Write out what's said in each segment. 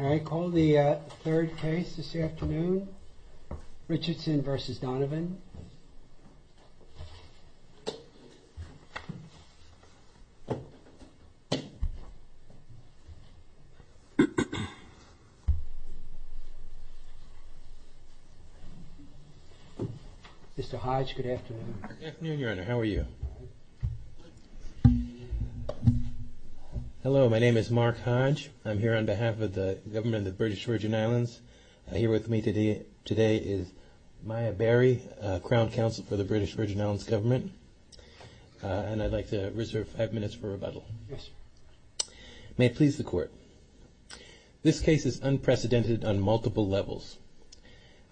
All right, call the third case this afternoon, Richardson v. Donovan. Mr. Hodge, good afternoon. Good afternoon, Your Honor. How are you? Hello, my name is Mark Hodge. I'm here on behalf of the Government of the British Virgin Islands. Here with me today is Maya Barry, Crown Counsel for the British Virgin Islands Government, and I'd like to reserve five minutes for rebuttal. Yes, sir. May it please the Court. This case is unprecedented on multiple levels.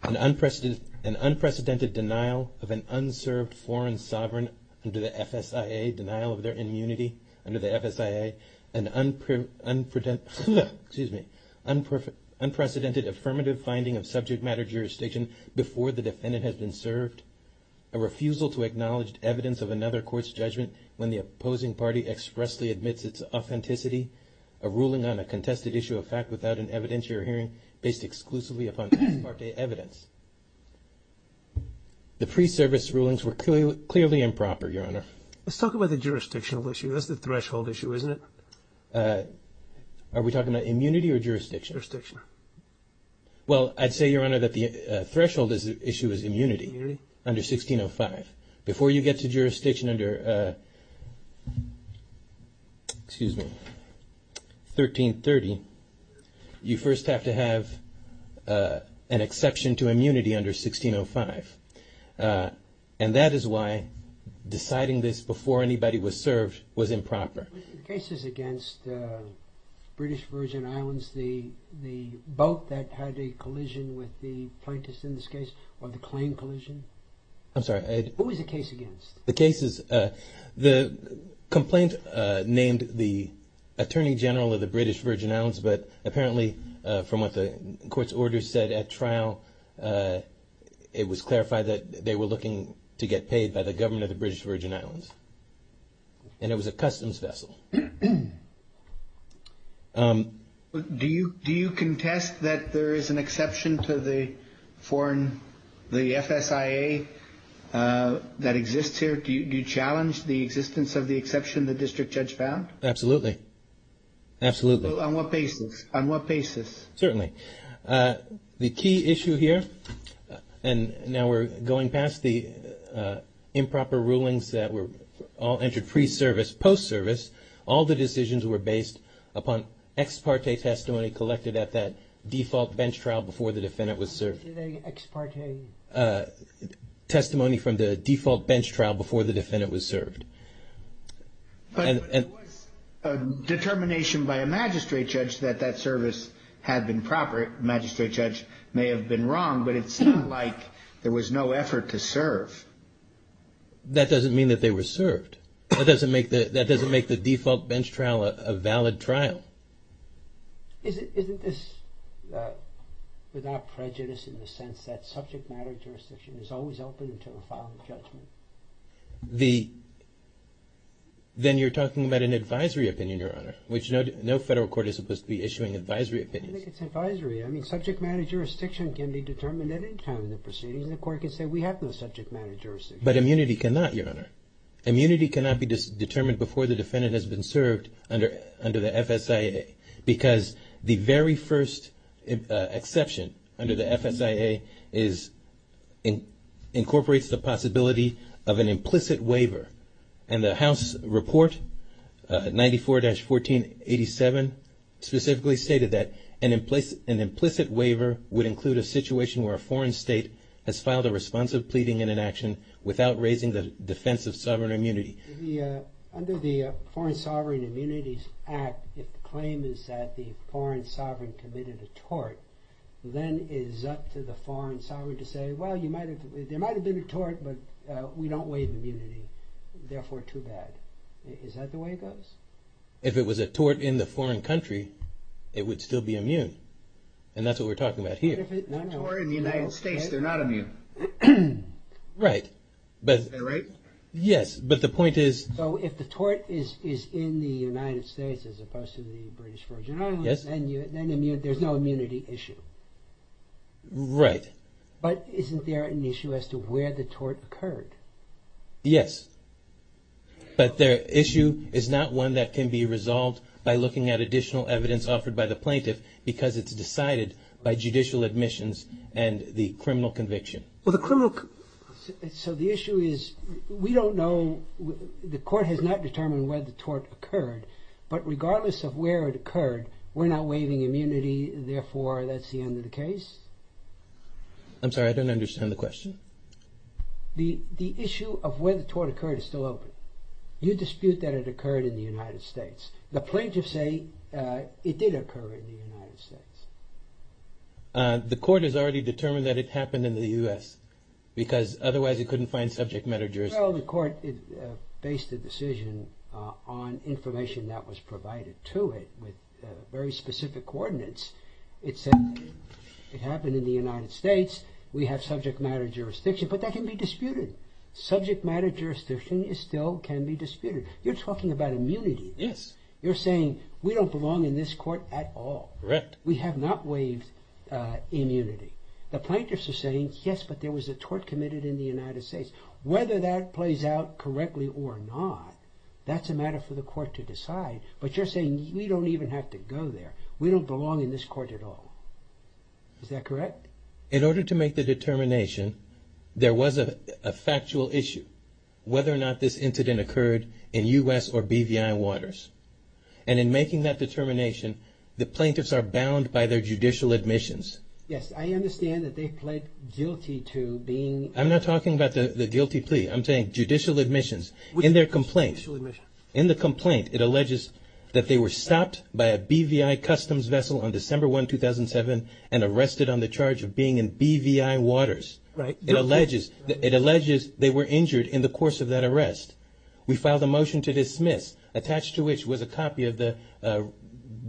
An unprecedented denial of an unserved foreign sovereign under the FSIA, denial of their immunity under the FSIA, an unprecedented affirmative finding of subject matter jurisdiction before the defendant has been served, a refusal to acknowledge evidence of another court's judgment when the opposing party expressly admits its authenticity, a ruling on a contested issue of fact without an evidentiary hearing based exclusively upon expert evidence. The pre-service rulings were clearly improper, Your Honor. Let's talk about the jurisdictional issue. That's the threshold issue, isn't it? Are we talking about immunity or jurisdiction? Jurisdiction. Well, I'd say, Your Honor, that the threshold issue is immunity under 1605. Before you get to jurisdiction under, excuse me, 1330, you first have to have an exception to immunity under 1605. And that is why deciding this before anybody was served was improper. Were the cases against British Virgin Islands the boat that had a collision with the plaintiffs in this case, or the claim collision? I'm sorry. What was the case against? The case is the complaint named the Attorney General of the British Virgin Islands, but apparently from what the court's order said at trial, it was clarified that they were looking to get paid by the government of the British Virgin Islands. And it was a customs vessel. Do you contest that there is an exception to the foreign, the FSIA that exists here? Do you challenge the existence of the exception the district judge found? Absolutely. Absolutely. On what basis? On what basis? Certainly. The key issue here, and now we're going past the improper rulings that were all entered pre-service, post-service, all the decisions were based upon ex parte testimony collected at that default bench trial before the defendant was served. Did they ex parte? Testimony from the default bench trial before the defendant was served. But it was a determination by a magistrate judge that that service had been proper. The magistrate judge may have been wrong, but it's not like there was no effort to serve. That doesn't mean that they were served. That doesn't make the default bench trial a valid trial. Isn't this without prejudice in the sense that subject matter jurisdiction is always open until a final judgment? Then you're talking about an advisory opinion, Your Honor, which no federal court is supposed to be issuing advisory opinions. I think it's advisory. I mean, subject matter jurisdiction can be determined at any time in the proceedings. The court can say we have no subject matter jurisdiction. But immunity cannot, Your Honor. Immunity cannot be determined before the defendant has been served under the FSIA because the very first exception under the FSIA incorporates the possibility of an implicit waiver. And the House Report 94-1487 specifically stated that an implicit waiver would include a situation where a foreign state has filed a responsive pleading and an action without raising the defense of sovereign immunity. Under the Foreign Sovereign Immunities Act, if the claim is that the foreign sovereign committed a tort, then it is up to the foreign sovereign to say, well, there might have been a tort, but we don't waive immunity. Therefore, too bad. Is that the way it goes? If it was a tort in the foreign country, it would still be immune. And that's what we're talking about here. But if it's a tort in the United States, they're not immune. Right. Is that right? Yes, but the point is... So if the tort is in the United States as opposed to the British Virgin Islands, then there's no immunity issue. Right. But isn't there an issue as to where the tort occurred? Yes. But the issue is not one that can be resolved by looking at additional evidence offered by the plaintiff because it's decided by judicial admissions and the criminal conviction. Well, the criminal... So the issue is, we don't know, the court has not determined where the tort occurred, but regardless of where it occurred, we're not waiving immunity, therefore, that's the end of the case? I'm sorry, I don't understand the question. The issue of where the tort occurred is still open. You dispute that it occurred in the United States. The plaintiffs say it did occur in the United States. The court has already determined that it happened in the U.S., because otherwise it couldn't find subject matter jurisdiction. Well, the court based the decision on information that was provided to it with very specific coordinates. It said it happened in the United States, we have subject matter jurisdiction, but that can be disputed. Subject matter jurisdiction still can be disputed. You're talking about immunity. Yes. You're saying, we don't belong in this court at all. Correct. We have not waived immunity. The plaintiffs are saying, yes, but there was a tort committed in the United States. Whether that plays out correctly or not, that's a matter for the court to decide, but you're saying we don't even have to go there. We don't belong in this court at all. Is that correct? In order to make the determination, there was a factual issue. Whether or not this incident occurred in U.S. or BVI waters. And in making that determination, the plaintiffs are bound by their judicial admissions. Yes, I understand that they pled guilty to being... I'm not talking about the guilty plea. I'm saying judicial admissions. In their complaint, in the complaint, it alleges that they were stopped by a BVI customs vessel on December 1, 2007, and arrested on the charge of being in BVI waters. Right. It alleges they were injured in the course of that arrest. We filed a motion to dismiss, attached to which was a copy of the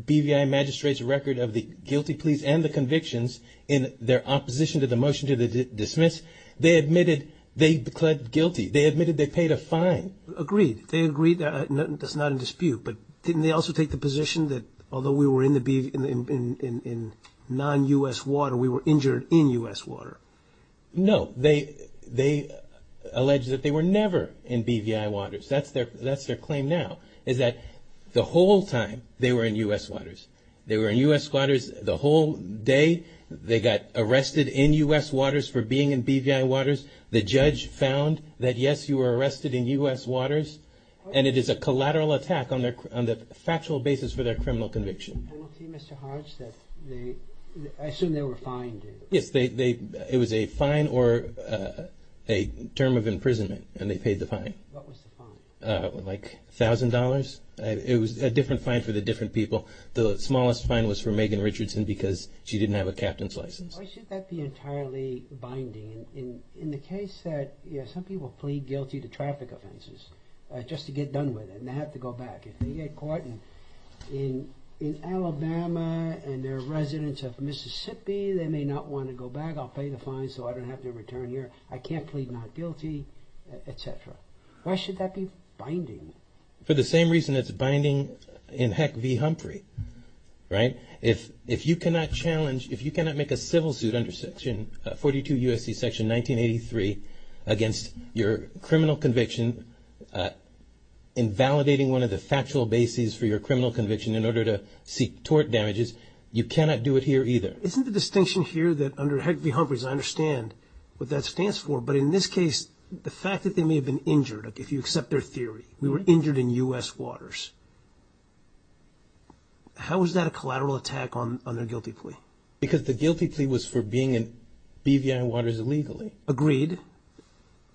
BVI magistrate's record of the guilty pleas and the convictions in their opposition to the motion to dismiss. They admitted they pled guilty. They admitted they paid a fine. Agreed. They agreed. That's not in dispute. But didn't they also take the position that although we were in non-U.S. water, we were injured in U.S. water? No. They alleged that they were never in BVI waters. That's their claim now, is that the whole time they were in U.S. waters. They were in U.S. waters the whole day. They got arrested in U.S. waters for being in BVI waters. The judge found that, yes, you were arrested in U.S. waters, and it is a collateral attack on the factual basis for their criminal conviction. I don't see, Mr. Hodge, that they... I assume they were fined. Yes. It was a fine or a term of imprisonment, and they paid the fine. What was the fine? Like $1,000. It was a different fine for the different people. The smallest fine was for Megan Richardson because she didn't have a captain's license. Why should that be entirely binding? In the case that some people plead guilty to traffic offenses just to get done with it and they have to go back. They get caught in Alabama and they're residents of Mississippi. They may not want to go back. I'll pay the fine so I don't have to return here. I can't plead not guilty, etc. Why should that be binding? For the same reason it's binding in Heck v. Humphrey. If you cannot challenge, if you cannot make a civil suit under section 42 U.S.C. section 1983 against your criminal conviction invalidating one of the factual bases for your criminal conviction in order to seek tort damages, you cannot do it here either. Isn't the distinction here that under Heck v. Humphrey, as I understand what that stands for, but in this case the fact that they may have been injured, if you accept their theory, we were injured in U.S. waters. How is that a collateral attack on their guilty plea? Because the guilty plea was for being in BVI waters illegally. Agreed.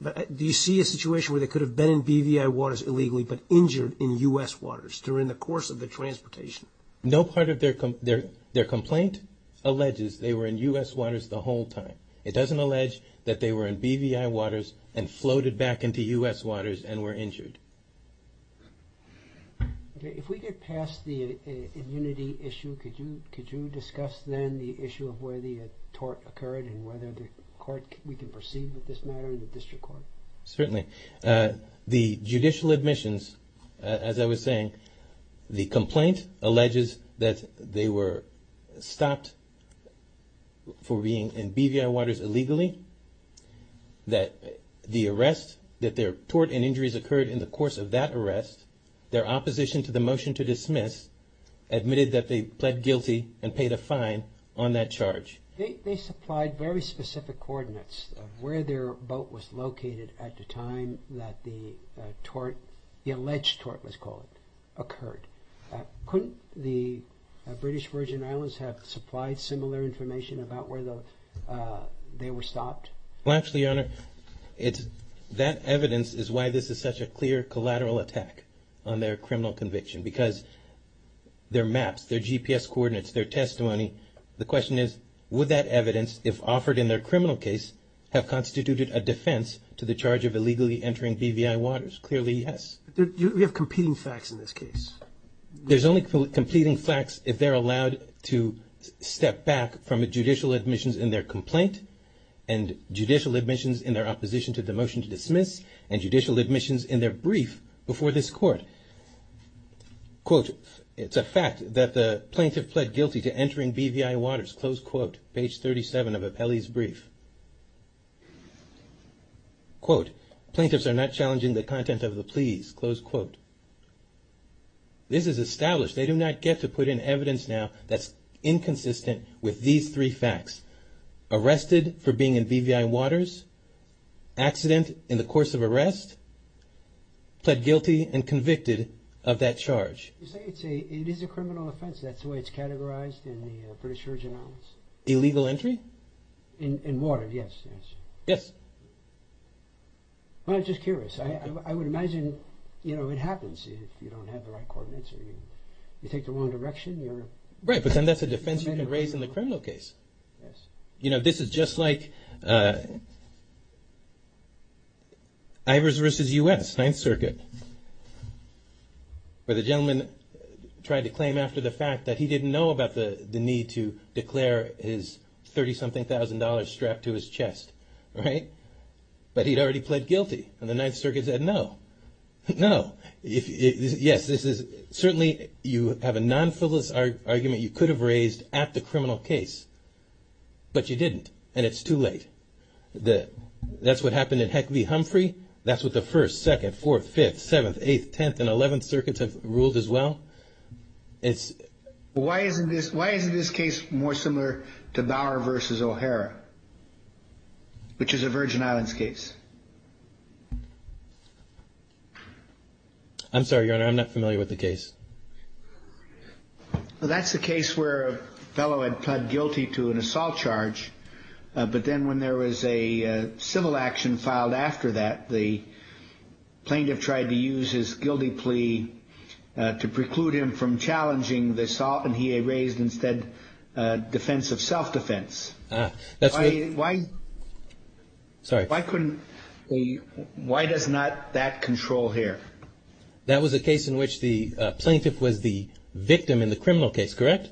Do you see a situation where they could have been in BVI waters illegally but injured in U.S. waters during the course of the transportation? No part of their complaint alleges they were in U.S. waters the whole time. It doesn't allege that they were in BVI waters and floated back into U.S. waters and were injured. If we get past the immunity issue, could you discuss then the issue of where the tort occurred and whether we can proceed with this matter in the district court? Certainly. The judicial admissions, as I was saying, the complaint alleges that they were stopped for being in BVI waters illegally, that the arrest, that their tort and injuries occurred in the course of that arrest, their opposition to the motion to dismiss admitted that they pled guilty and paid a fine on that charge. They supplied very specific coordinates of where their boat was located at the time that the tort, the alleged tort, let's call it, occurred. Couldn't the British Virgin Islands have supplied similar information about where they were stopped? Well, actually, Your Honor, that evidence is why this is such a clear collateral attack on their criminal conviction because their maps, their GPS coordinates, their testimony, the question is, would that evidence, if offered in their criminal case, have constituted a defense to the charge of illegally entering BVI waters? Clearly, yes. We have competing facts in this case. There's only competing facts if they're allowed to step back from a judicial admissions in their complaint and judicial admissions in their opposition to the motion to dismiss and judicial admissions in their brief before this court. Quote, it's a fact that the plaintiff pled guilty to entering BVI waters, close quote, page 37 of Apelli's brief. Quote, plaintiffs are not challenging the content of the pleas, close quote. This is established. They do not get to put in evidence now that's inconsistent with these three facts. Arrested for being in BVI waters, accident in the course of arrest, pled guilty and convicted of that charge. You say it is a criminal offense. That's the way it's categorized in the British Virgin Islands. Illegal entry? In water, yes. Yes. Well, I'm just curious. I would imagine it happens if you don't have the right coordinates or you take the wrong direction. Right, but then that's a defense you can raise in the criminal case. Yes. You know, this is just like Ivers versus U.S., Ninth Circuit, where the gentleman tried to claim after the fact that he didn't know about the need to declare his 30-something thousand dollars strapped to his chest. Right? But he'd already pled guilty and the Ninth Circuit said no. No. Yes, certainly you have a non-fiddless argument you could have raised at the criminal case, but you didn't, and it's too late. That's what happened in Heck v. Humphrey. That's what the First, Second, Fourth, Fifth, Seventh, Eighth, Tenth, and Eleventh Circuits have ruled as well. Why isn't this case more similar to Bower v. O'Hara, which is a Virgin Islands case? I'm sorry, Your Honor, I'm not familiar with the case. Well, that's the case where a fellow had pled guilty to an assault charge, but then when there was a civil action filed after that, the plaintiff tried to use his guilty plea to preclude him from challenging the assault, and he raised instead defense of self-defense. Why does not that control here? That was a case in which the plaintiff was the victim in the criminal case, correct?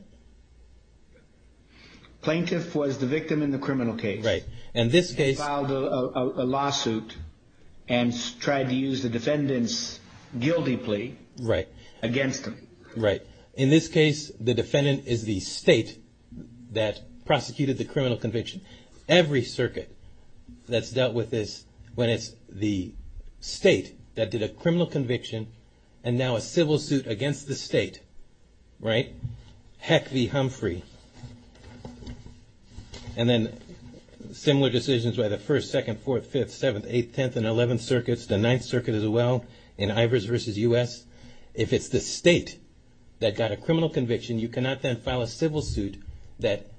Plaintiff was the victim in the criminal case. Right. And this case... Filed a lawsuit and tried to use the defendant's guilty plea against him. Right. In this case, the defendant is the state that prosecuted the criminal conviction. Every circuit that's dealt with this, when it's the state that did a criminal conviction, and now a civil suit against the state, right? Heck be Humphrey. And then similar decisions by the 1st, 2nd, 4th, 5th, 7th, 8th, 10th, and 11th Circuits, the 9th Circuit as well, in Ivers v. U.S. If it's the state that got a criminal conviction, you cannot then file a civil suit that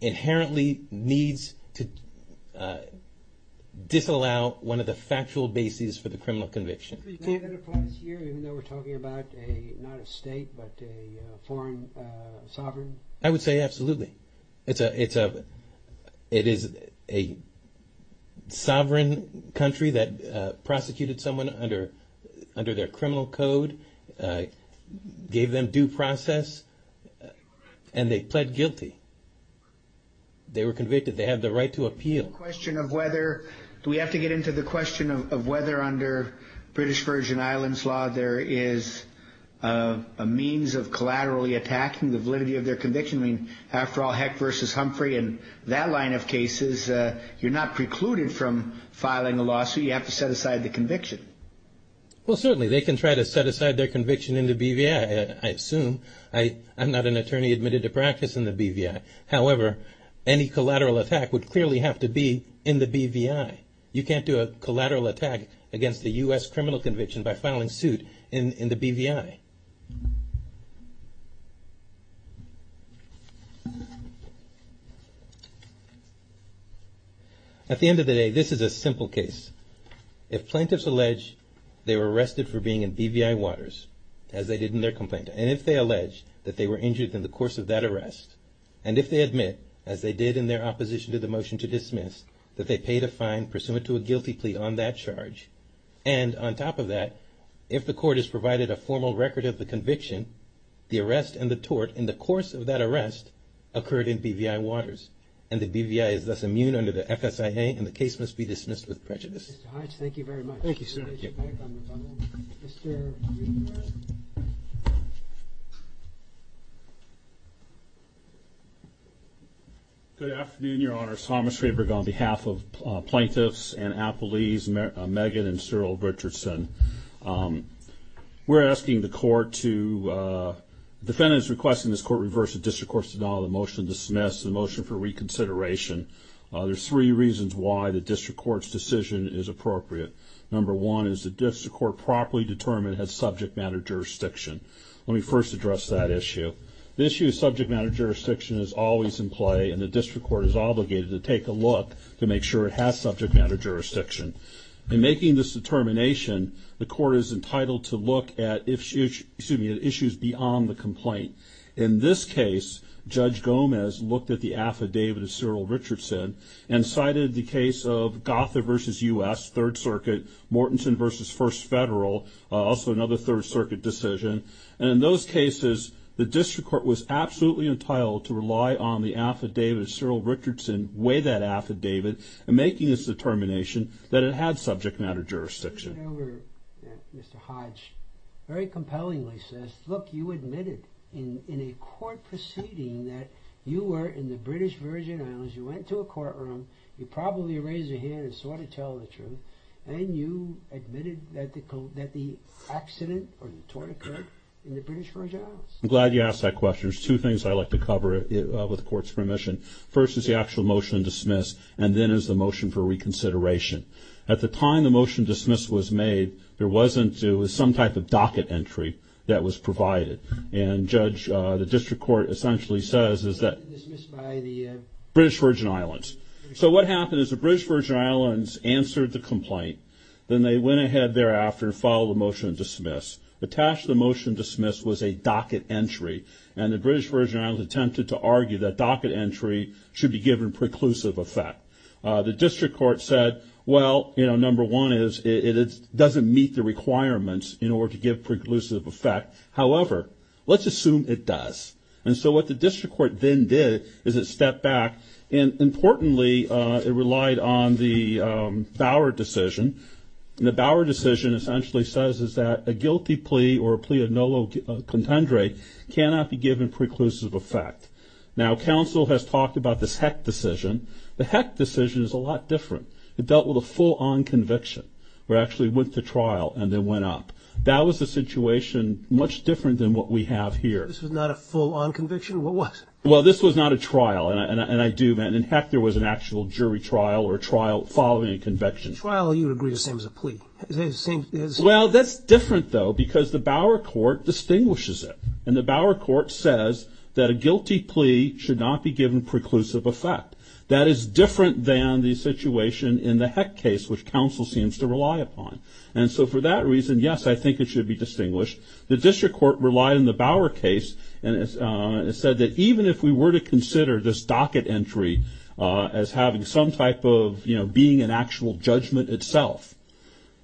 inherently needs to disallow one of the factual bases for the criminal conviction. So you can't then apply this here, even though we're talking about not a state, but a foreign sovereign? I would say absolutely. It is a sovereign country that prosecuted someone under their criminal code, gave them due process, and they pled guilty. They were convicted. They have the right to appeal. Do we have to get into the question of whether under British Virgin Islands law, there is a means of collaterally attacking the validity of their conviction? I mean, after all, Heck v. Humphrey and that line of cases, you're not precluded from filing a lawsuit. You have to set aside the conviction. Well, certainly. They can try to set aside their conviction in the BVI, I assume. I'm not an attorney admitted to practice in the BVI. However, any collateral attack would clearly have to be in the BVI. You can't do a collateral attack against a U.S. criminal conviction by filing suit in the BVI. At the end of the day, this is a simple case. If plaintiffs allege they were arrested for being in BVI waters, as they did in their complaint, and if they allege that they were injured in the course of that arrest, and if they admit, as they did in their opposition to the motion to dismiss, that they paid a fine pursuant to a guilty plea on that charge, and on top of that, if the court has provided a formal record of the conviction, the arrest and the tort in the course of that arrest occurred in BVI waters, and the BVI is thus immune under the FSIA, and the case must be dismissed with prejudice. Mr. Hodge, thank you very much. Thank you, sir. Thank you. Good afternoon, Your Honor. Thomas Faber on behalf of plaintiffs and appellees, Megan and Cyril Richardson. We're asking the court to, the defendant is requesting this court reverse the district court's denial of the motion to dismiss, the motion for reconsideration. There's three reasons why the district court's decision is appropriate. Number one is the district court properly determined has subject matter jurisdiction. Let me first address that issue. The issue of subject matter jurisdiction is always in play, and the district court is obligated to take a look to make sure it has subject matter jurisdiction. In making this determination, the court is entitled to look at issues beyond the complaint. In this case, Judge Gomez looked at the affidavit of Cyril Richardson and cited the case of Gotha v. U.S., Third Circuit, Mortenson v. First Federal, also another Third Circuit decision. And in those cases, the district court was absolutely entitled to rely on the affidavit of Cyril Richardson, weigh that affidavit, and making this determination that it had subject matter jurisdiction. Whatever Mr. Hodge very compellingly says, look, you admitted in a court proceeding that you were in the British Virgin Islands, you went to a courtroom, you probably raised your hand and sought to tell the truth, and you admitted that the accident or the torn occurred in the British Virgin Islands. I'm glad you asked that question. There's two things I'd like to cover with the court's permission. First is the actual motion to dismiss, and then is the motion for reconsideration. At the time the motion to dismiss was made, there wasn't some type of docket entry that was provided. And Judge, the district court essentially says is that British Virgin Islands. So what happened is the British Virgin Islands answered the complaint, then they went ahead thereafter and followed the motion to dismiss. Attached to the motion to dismiss was a docket entry, and the British Virgin Islands attempted to argue that docket entry should be given preclusive effect. The district court said, well, you know, number one is it doesn't meet the requirements in order to give preclusive effect. However, let's assume it does. And so what the district court then did is it stepped back, and importantly, it relied on the Bower decision. And the Bower decision essentially says is that a guilty plea or a plea of nolo contendere cannot be given preclusive effect. Now, counsel has talked about this Heck decision. The Heck decision is a lot different. It dealt with a full-on conviction, where it actually went to trial and then went up. That was a situation much different than what we have here. This was not a full-on conviction? What was? Well, this was not a trial, and I do mean, in Heck, there was an actual jury trial or trial following a conviction. A trial you would agree is the same as a plea. Well, that's different, though, because the Bower court distinguishes it. And the Bower court says that a guilty plea should not be given preclusive effect. That is different than the situation in the Heck case, which counsel seems to rely upon. And so for that reason, yes, I think it should be distinguished. The district court relied on the Bower case and said that even if we were to consider this docket entry as having some type of, you know, being an actual judgment itself,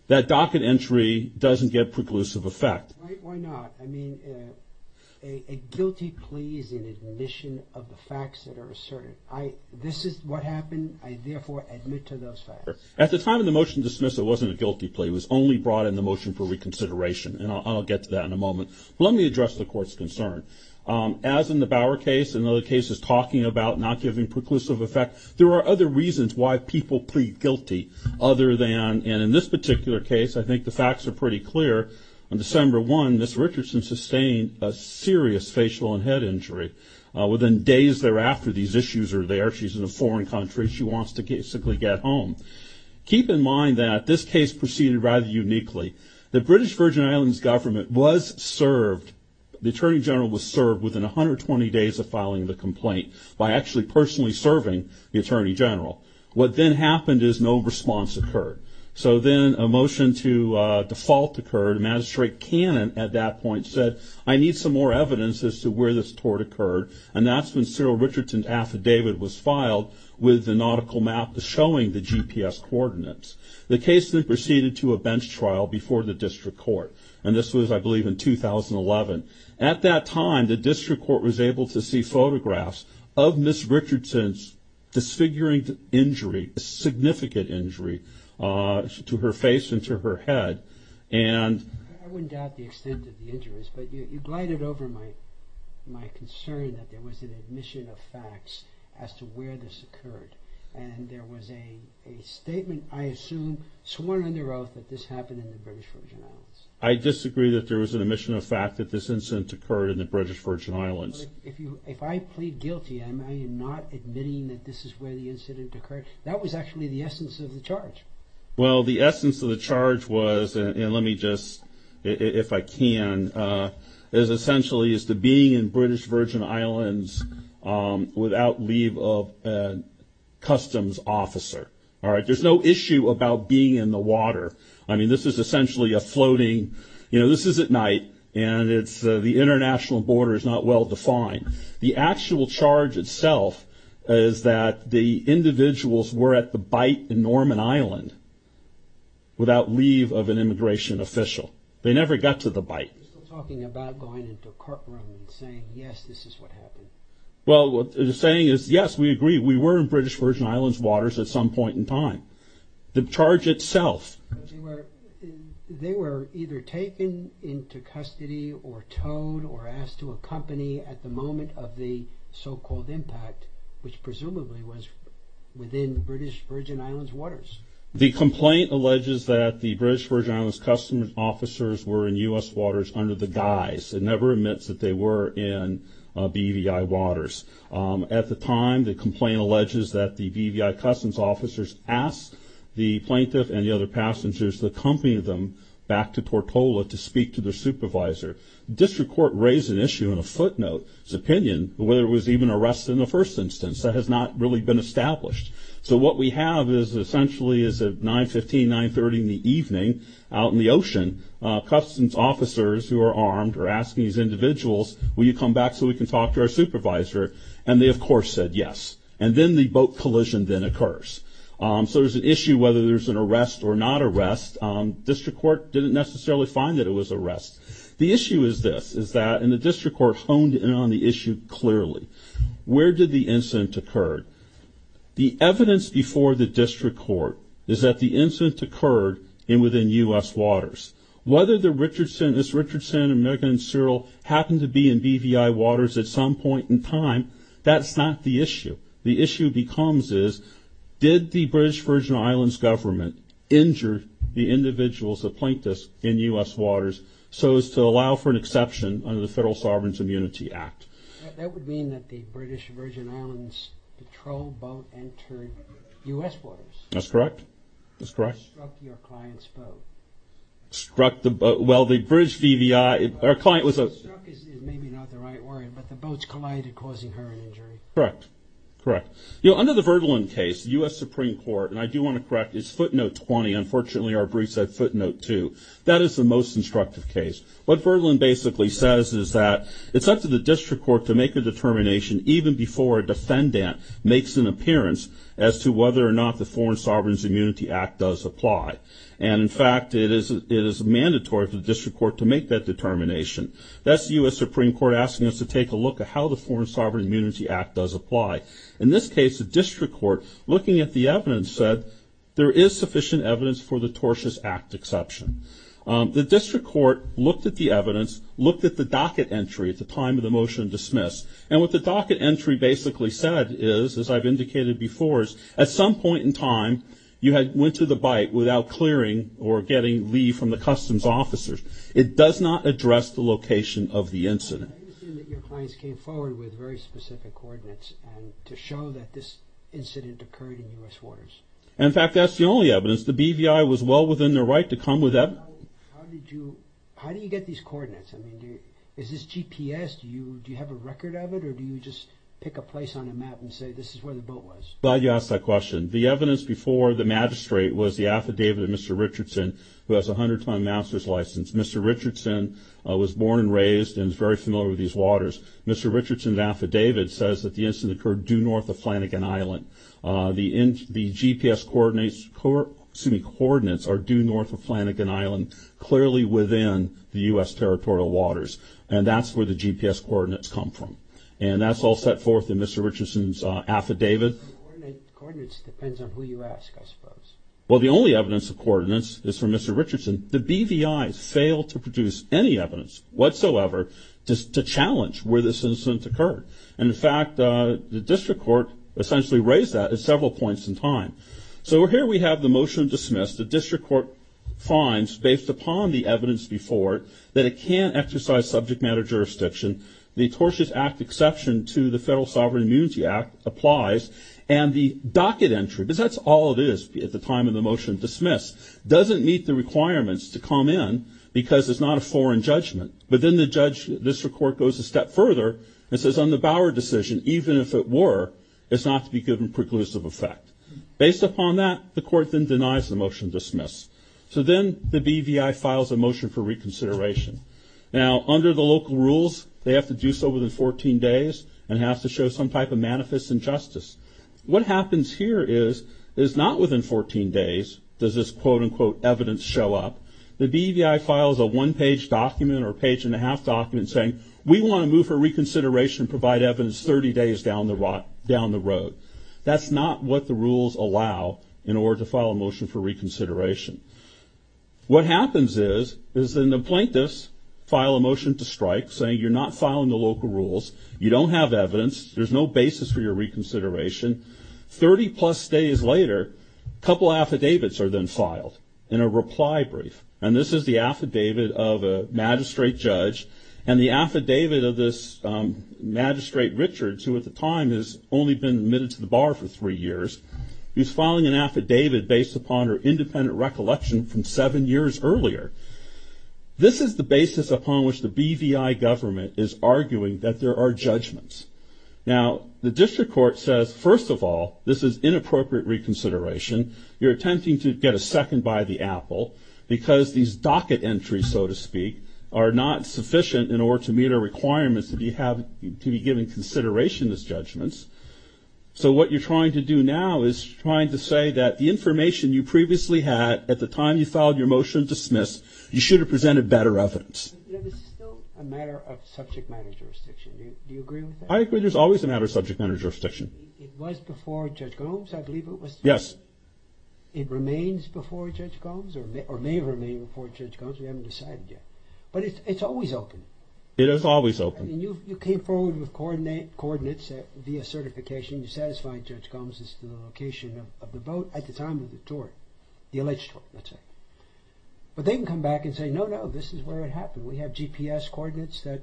that docket entry doesn't get preclusive effect. Why not? I mean, a guilty plea is an admission of the facts that are asserted. This is what happened. I therefore admit to those facts. At the time of the motion dismissal, it wasn't a guilty plea. It was only brought in the motion for reconsideration, and I'll get to that in a moment. But let me address the court's concern. As in the Bower case and other cases talking about not giving preclusive effect, there are other reasons why people plead guilty other than, and in this particular case, I think the facts are pretty clear. On December 1, Ms. Richardson sustained a serious facial and head injury. Within days thereafter, these issues are there. She's in a foreign country. She wants to basically get home. Keep in mind that this case proceeded rather uniquely. The British Virgin Islands government was served, the Attorney General was served, within 120 days of filing the complaint by actually personally serving the Attorney General. What then happened is no response occurred. So then a motion to default occurred. Magistrate Cannon at that point said, I need some more evidence as to where this tort occurred, and that's when Cyril Richardson's affidavit was filed with the nautical map showing the GPS coordinates. The case then proceeded to a bench trial before the district court, and this was, I believe, in 2011. At that time, the district court was able to see photographs of Ms. Richardson's disfiguring injury, a significant injury to her face and to her head. I wouldn't doubt the extent of the injuries, but you glided over my concern that there was an admission of facts as to where this occurred, and there was a statement, I assume, sworn under oath that this happened in the British Virgin Islands. I disagree that there was an admission of fact that this incident occurred in the British Virgin Islands. If I plead guilty, am I not admitting that this is where the incident occurred? That was actually the essence of the charge. Well, the essence of the charge was, and let me just, if I can, is essentially as to being in British Virgin Islands without leave of a customs officer. There's no issue about being in the water. I mean, this is essentially a floating, you know, this is at night, and the international border is not well defined. The actual charge itself is that the individuals were at the bite in Norman Island without leave of an immigration official. They never got to the bite. You're still talking about going into a courtroom and saying, yes, this is what happened. Well, the saying is, yes, we agree. We were in British Virgin Islands waters at some point in time. The charge itself. They were either taken into custody or towed or asked to accompany at the moment of the so-called impact, which presumably was within British Virgin Islands waters. The complaint alleges that the British Virgin Islands customs officers were in U.S. waters under the guise and never admits that they were in BVI waters. At the time, the complaint alleges that the BVI customs officers asked the plaintiff and the other passengers to accompany them back to Tortola to speak to their supervisor. The district court raised an issue in a footnote, its opinion, whether it was even arrested in the first instance. That has not really been established. So what we have is essentially is at 9.15, 9.30 in the evening out in the ocean, customs officers who are armed are asking these individuals, will you come back so we can talk to our supervisor? And they, of course, said yes. And then the boat collision then occurs. So there's an issue whether there's an arrest or not arrest. District court didn't necessarily find that it was arrest. The issue is this, is that, and the district court honed in on the issue clearly. Where did the incident occur? The evidence before the district court is that the incident occurred within U.S. waters. Whether this Richardson, American and Cyril happened to be in BVI waters at some point in time, that's not the issue. The issue becomes is, did the British Virgin Islands government injure the individuals that planked us in U.S. waters so as to allow for an exception under the Federal Sovereign Immunity Act? That would mean that the British Virgin Islands patrol boat entered U.S. waters. That's correct. Struck your client's boat. Struck the boat. Well, the British BVI, our client was a Struck is maybe not the right word, but the boats collided causing her an injury. Correct. Correct. You know, under the Verdlin case, U.S. Supreme Court, and I do want to correct, it's footnote 20. Unfortunately, our brief said footnote 2. That is the most instructive case. What Verdlin basically says is that it's up to the district court to make a determination even before a defendant makes an appearance as to whether or not the Foreign Sovereign Immunity Act does apply. And, in fact, it is mandatory for the district court to make that determination. That's the U.S. Supreme Court asking us to take a look at how the Foreign Sovereign Immunity Act does apply. In this case, the district court, looking at the evidence, said there is sufficient evidence for the tortious act exception. The district court looked at the evidence, looked at the docket entry at the time of the motion to dismiss, and what the docket entry basically said is, as I've indicated before, is at some point in time you went to the bite without clearing or getting leave from the customs officers. It does not address the location of the incident. I understand that your clients came forward with very specific coordinates to show that this incident occurred in U.S. waters. In fact, that's the only evidence. The BVI was well within their right to come with evidence. How did you get these coordinates? I mean, is this GPS? Do you have a record of it, or do you just pick a place on a map and say, this is where the boat was? I'm glad you asked that question. The evidence before the magistrate was the affidavit of Mr. Richardson, who has a 100-ton master's license. Mr. Richardson was born and raised and is very familiar with these waters. Mr. Richardson's affidavit says that the incident occurred due north of Flanagan Island. The GPS coordinates are due north of Flanagan Island, clearly within the U.S. territorial waters, and that's where the GPS coordinates come from. And that's all set forth in Mr. Richardson's affidavit. Coordinates depends on who you ask, I suppose. Well, the only evidence of coordinates is from Mr. Richardson. The BVI failed to produce any evidence whatsoever to challenge where this incident occurred. And, in fact, the district court essentially raised that at several points in time. So here we have the motion dismissed. The district court finds, based upon the evidence before it, that it can't exercise subject matter jurisdiction. The Tortious Act exception to the Federal Sovereign Immunity Act applies. And the docket entry, because that's all it is at the time of the motion dismissed, doesn't meet the requirements to come in because it's not a foreign judgment. But then the district court goes a step further and says, on the Bower decision, even if it were, it's not to be given preclusive effect. Based upon that, the court then denies the motion dismissed. So then the BVI files a motion for reconsideration. Now, under the local rules, they have to do so within 14 days and have to show some type of manifest injustice. What happens here is, is not within 14 days does this quote-unquote evidence show up. The BVI files a one-page document or page-and-a-half document saying, we want to move for reconsideration and provide evidence 30 days down the road. That's not what the rules allow in order to file a motion for reconsideration. What happens is, is then the plaintiffs file a motion to strike, saying you're not filing the local rules. You don't have evidence. There's no basis for your reconsideration. Thirty-plus days later, a couple affidavits are then filed in a reply brief. And this is the affidavit of a magistrate judge and the affidavit of this magistrate Richards, who at the time has only been admitted to the bar for three years. He's filing an affidavit based upon her independent recollection from seven years earlier. This is the basis upon which the BVI government is arguing that there are judgments. Now, the district court says, first of all, this is inappropriate reconsideration. You're attempting to get a second by the apple because these docket entries, so to speak, are not sufficient in order to meet our requirements to be given consideration as judgments. So what you're trying to do now is trying to say that the information you previously had at the time you filed your motion to dismiss, you should have presented better evidence. This is still a matter of subject matter jurisdiction. Do you agree with that? I agree there's always a matter of subject matter jurisdiction. It was before Judge Gomes, I believe it was? Yes. It remains before Judge Gomes or may remain before Judge Gomes. We haven't decided yet. But it's always open. It is always open. And you came forward with coordinates via certification. You satisfied Judge Gomes as to the location of the boat at the time of the tour, the alleged tour, let's say. But they can come back and say, no, no, this is where it happened. We have GPS coordinates that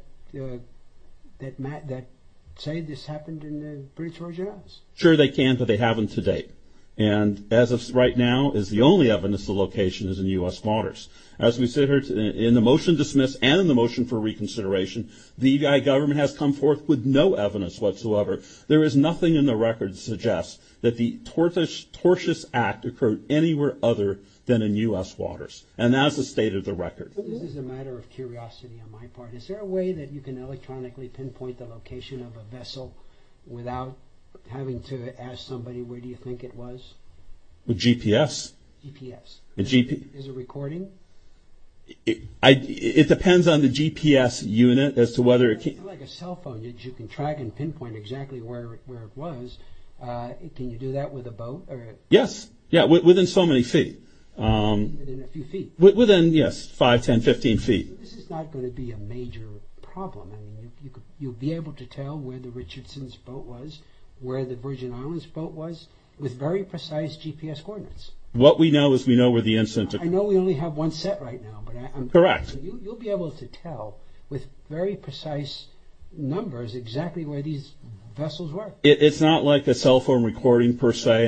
say this happened in the British Royal Generals. Sure they can, but they haven't to date. And as of right now is the only evidence the location is in U.S. waters. As we sit here in the motion dismissed and in the motion for reconsideration, the BVI government has come forth with no evidence whatsoever. There is nothing in the record that suggests that the tortious act occurred anywhere other than in U.S. waters. And that's the state of the record. This is a matter of curiosity on my part. Is there a way that you can electronically pinpoint the location of a vessel without having to ask somebody where do you think it was? With GPS? GPS. Is it recording? It depends on the GPS unit as to whether it can. It's like a cell phone. You can track and pinpoint exactly where it was. Can you do that with a boat? Yes. Within so many feet. Within a few feet. Within, yes, 5, 10, 15 feet. This is not going to be a major problem. You'll be able to tell where the Richardson's boat was, where the Virgin Islands boat was, with very precise GPS coordinates. What we know is we know where the incident occurred. I know we only have one set right now. Correct. You'll be able to tell with very precise numbers exactly where these vessels were. It's not like a cell phone recording, per se.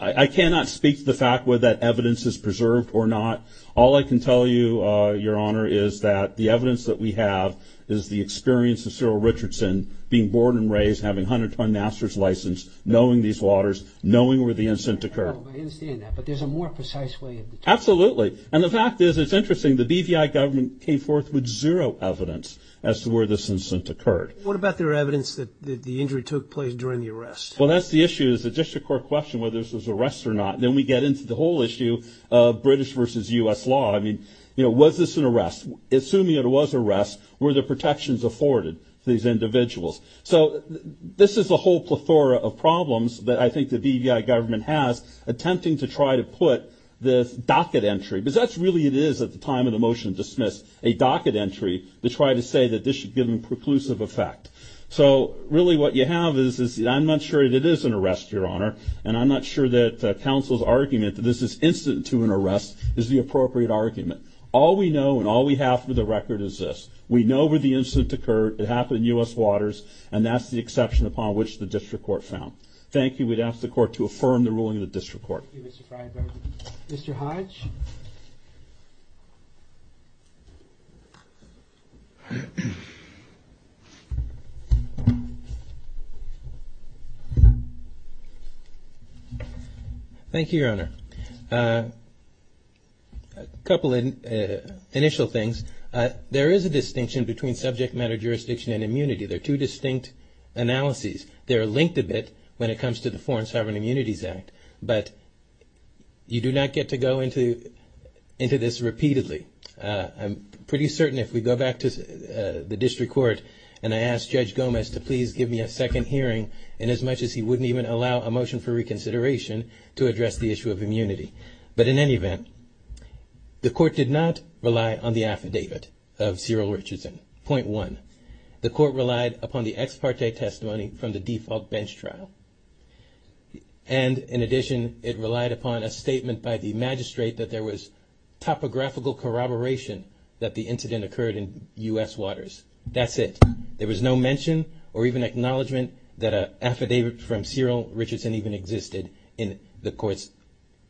I cannot speak to the fact whether that evidence is preserved or not. All I can tell you, Your Honor, is that the evidence that we have is the experience of Cyril Richardson being born and raised, having a 100-ton master's license, knowing these waters, knowing where the incident occurred. I understand that. But there's a more precise way of determining it. Absolutely. And the fact is, it's interesting, the BVI government came forth with zero evidence as to where this incident occurred. What about their evidence that the injury took place during the arrest? Well, that's the issue. It's a district court question whether this was an arrest or not. Then we get into the whole issue of British versus U.S. law. I mean, was this an arrest? Assuming it was an arrest, were the protections afforded to these individuals? So this is a whole plethora of problems that I think the BVI government has attempting to try to put this docket entry, because that's really what it is at the time of the motion to dismiss, a docket entry to try to say that this should give them preclusive effect. So really what you have is, I'm not sure that it is an arrest, Your Honor, and I'm not sure that counsel's argument that this is incident to an arrest is the appropriate argument. All we know and all we have for the record is this. We know where the incident occurred. It happened in U.S. waters, and that's the exception upon which the district court found. Thank you. We'd ask the court to affirm the ruling of the district court. Thank you, Mr. Freyberg. Mr. Hodge? Thank you, Your Honor. A couple of initial things. There is a distinction between subject matter jurisdiction and immunity. They're two distinct analyses. They're linked a bit when it comes to the Foreign Sovereign Immunities Act, but you do not get to go into this repeatedly. I'm pretty certain if we go back to the district court and I ask Judge Gomez to please give me a second hearing, I'm pretty certain that he would not allow a motion for reconsideration to address the issue of immunity. But in any event, the court did not rely on the affidavit of Cyril Richardson, point one. The court relied upon the ex parte testimony from the default bench trial. And in addition, it relied upon a statement by the magistrate that there was topographical corroboration that the incident occurred in U.S. waters. That's it. There was no mention or even acknowledgment that an affidavit from Cyril Richardson even existed in the court's,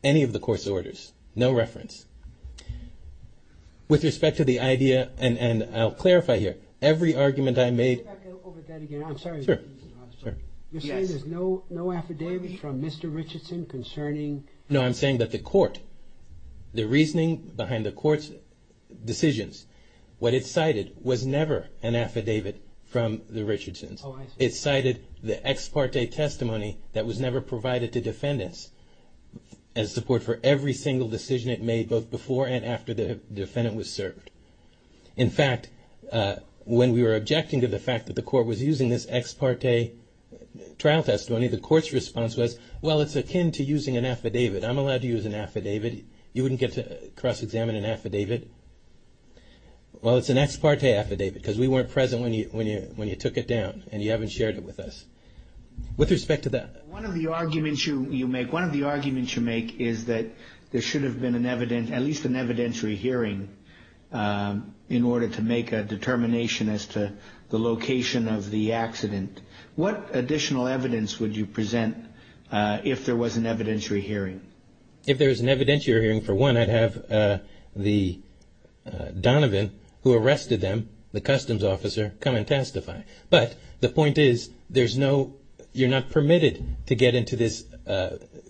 any of the court's orders. No reference. With respect to the idea, and I'll clarify here, every argument I made... Can we go back over that again? I'm sorry. Sure. You're saying there's no affidavit from Mr. Richardson concerning... Oh, I see. It cited the ex parte testimony that was never provided to defendants as support for every single decision it made both before and after the defendant was served. In fact, when we were objecting to the fact that the court was using this ex parte trial testimony, the court's response was, well, it's akin to using an affidavit. I'm allowed to use an affidavit. You wouldn't get to cross-examine an affidavit. Well, it's an ex parte affidavit because we weren't present when you took it down and you haven't shared it with us. With respect to that... One of the arguments you make, one of the arguments you make is that there should have been an evident, at least an evidentiary hearing in order to make a determination as to the location of the accident. What additional evidence would you present if there was an evidentiary hearing? If there was an evidentiary hearing, for one, I'd have the Donovan who arrested them, the customs officer, come and testify. But the point is there's no, you're not permitted to get into this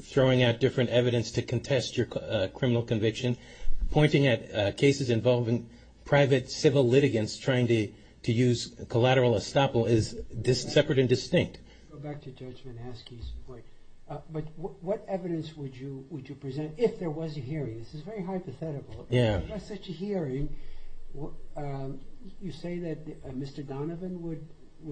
throwing out different evidence to contest your criminal conviction. Pointing at cases involving private civil litigants trying to use collateral estoppel is separate and distinct. Go back to Judge Manasky's point. But what evidence would you present if there was a hearing? This is very hypothetical. Yeah. If there was such a hearing, you say that Mr. Donovan would...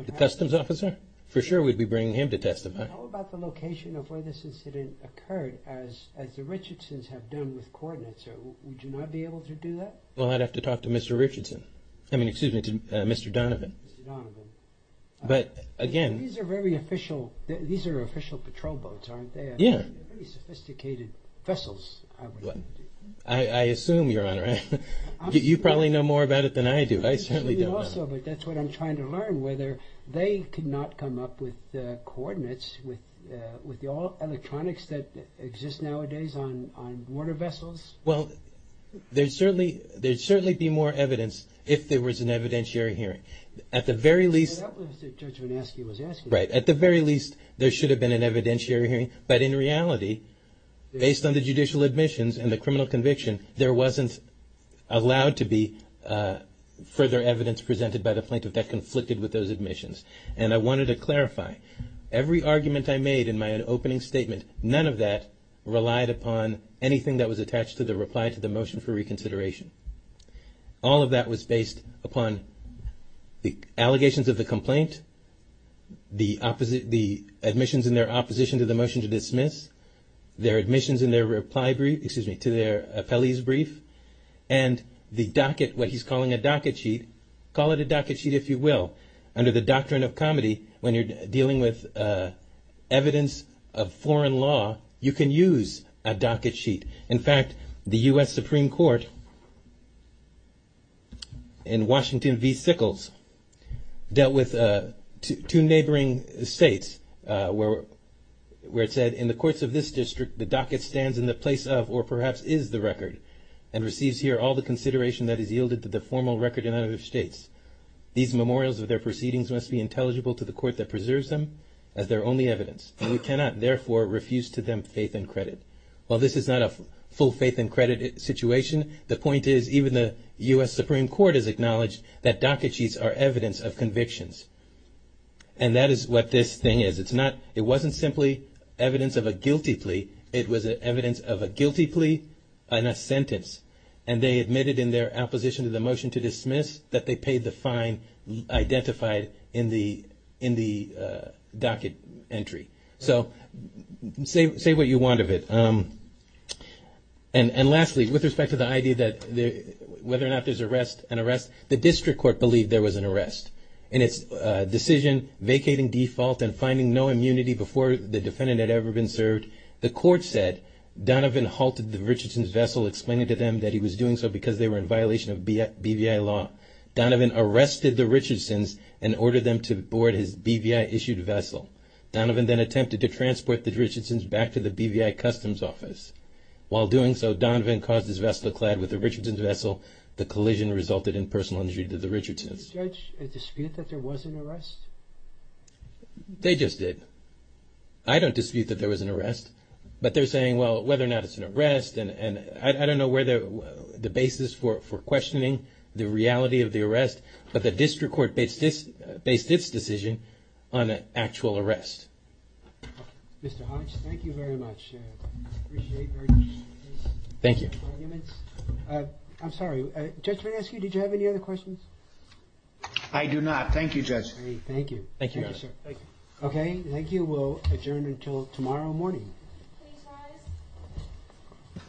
The customs officer? For sure, we'd be bringing him to testify. How about the location of where this incident occurred as the Richardsons have done with coordinates? Would you not be able to do that? Well, I'd have to talk to Mr. Richardson. I mean, excuse me, to Mr. Donovan. Mr. Donovan. But, again... These are very official. These are official patrol boats, aren't they? Yeah. Very sophisticated vessels, I would assume. I assume, Your Honor. You probably know more about it than I do. I certainly don't. But that's what I'm trying to learn, whether they could not come up with coordinates with all electronics that exist nowadays on water vessels. Well, there'd certainly be more evidence if there was an evidentiary hearing. At the very least... Right. At the very least, there should have been an evidentiary hearing. But in reality, based on the judicial admissions and the criminal conviction, there wasn't allowed to be further evidence presented by the plaintiff that conflicted with those admissions. And I wanted to clarify, every argument I made in my opening statement, none of that relied upon anything that was attached to the reply to the motion for reconsideration. All of that was based upon the allegations of the complaint, the admissions in their opposition to the motion to dismiss, their admissions in their reply brief, excuse me, to their appellee's brief, and the docket, what he's calling a docket sheet. Call it a docket sheet if you will. Under the doctrine of comedy, when you're dealing with evidence of foreign law, you can use a docket sheet. In fact, the U.S. Supreme Court in Washington v. Sickles dealt with two neighboring states where it said, in the courts of this district, the docket stands in the place of or perhaps is the record and receives here all the consideration that is yielded to the formal record in other states. These memorials of their proceedings must be intelligible to the court that preserves them as their only evidence. We cannot, therefore, refuse to them faith and credit. While this is not a full faith and credit situation, the point is even the U.S. Supreme Court has acknowledged that docket sheets are evidence of convictions. And that is what this thing is. It's not, it wasn't simply evidence of a guilty plea. It was evidence of a guilty plea and a sentence. And they admitted in their opposition to the motion to dismiss that they paid the fine identified in the docket entry. So say what you want of it. And lastly, with respect to the idea that whether or not there's an arrest, the district court believed there was an arrest. In its decision vacating default and finding no immunity before the defendant had ever been served, the court said Donovan halted the Richardson's vessel explaining to them that he was doing so because they were in violation of BVI law. Donovan arrested the Richardsons and ordered them to board his BVI-issued vessel. Donovan then attempted to transport the Richardsons back to the BVI Customs Office. While doing so, Donovan caused his vessel to clad with the Richardsons' vessel. The collision resulted in personal injury to the Richardsons. Did the judge dispute that there was an arrest? They just did. I don't dispute that there was an arrest. But they're saying, well, whether or not it's an arrest, and I don't know where the basis for questioning the reality of the arrest, but the district court based this decision on an actual arrest. Mr. Hodge, thank you very much. I appreciate your arguments. Thank you. I'm sorry, did the judge ask you, did you have any other questions? I do not. Thank you, Judge. Thank you. Thank you, Your Honor. Okay, thank you. We'll adjourn until tomorrow morning. Please rise.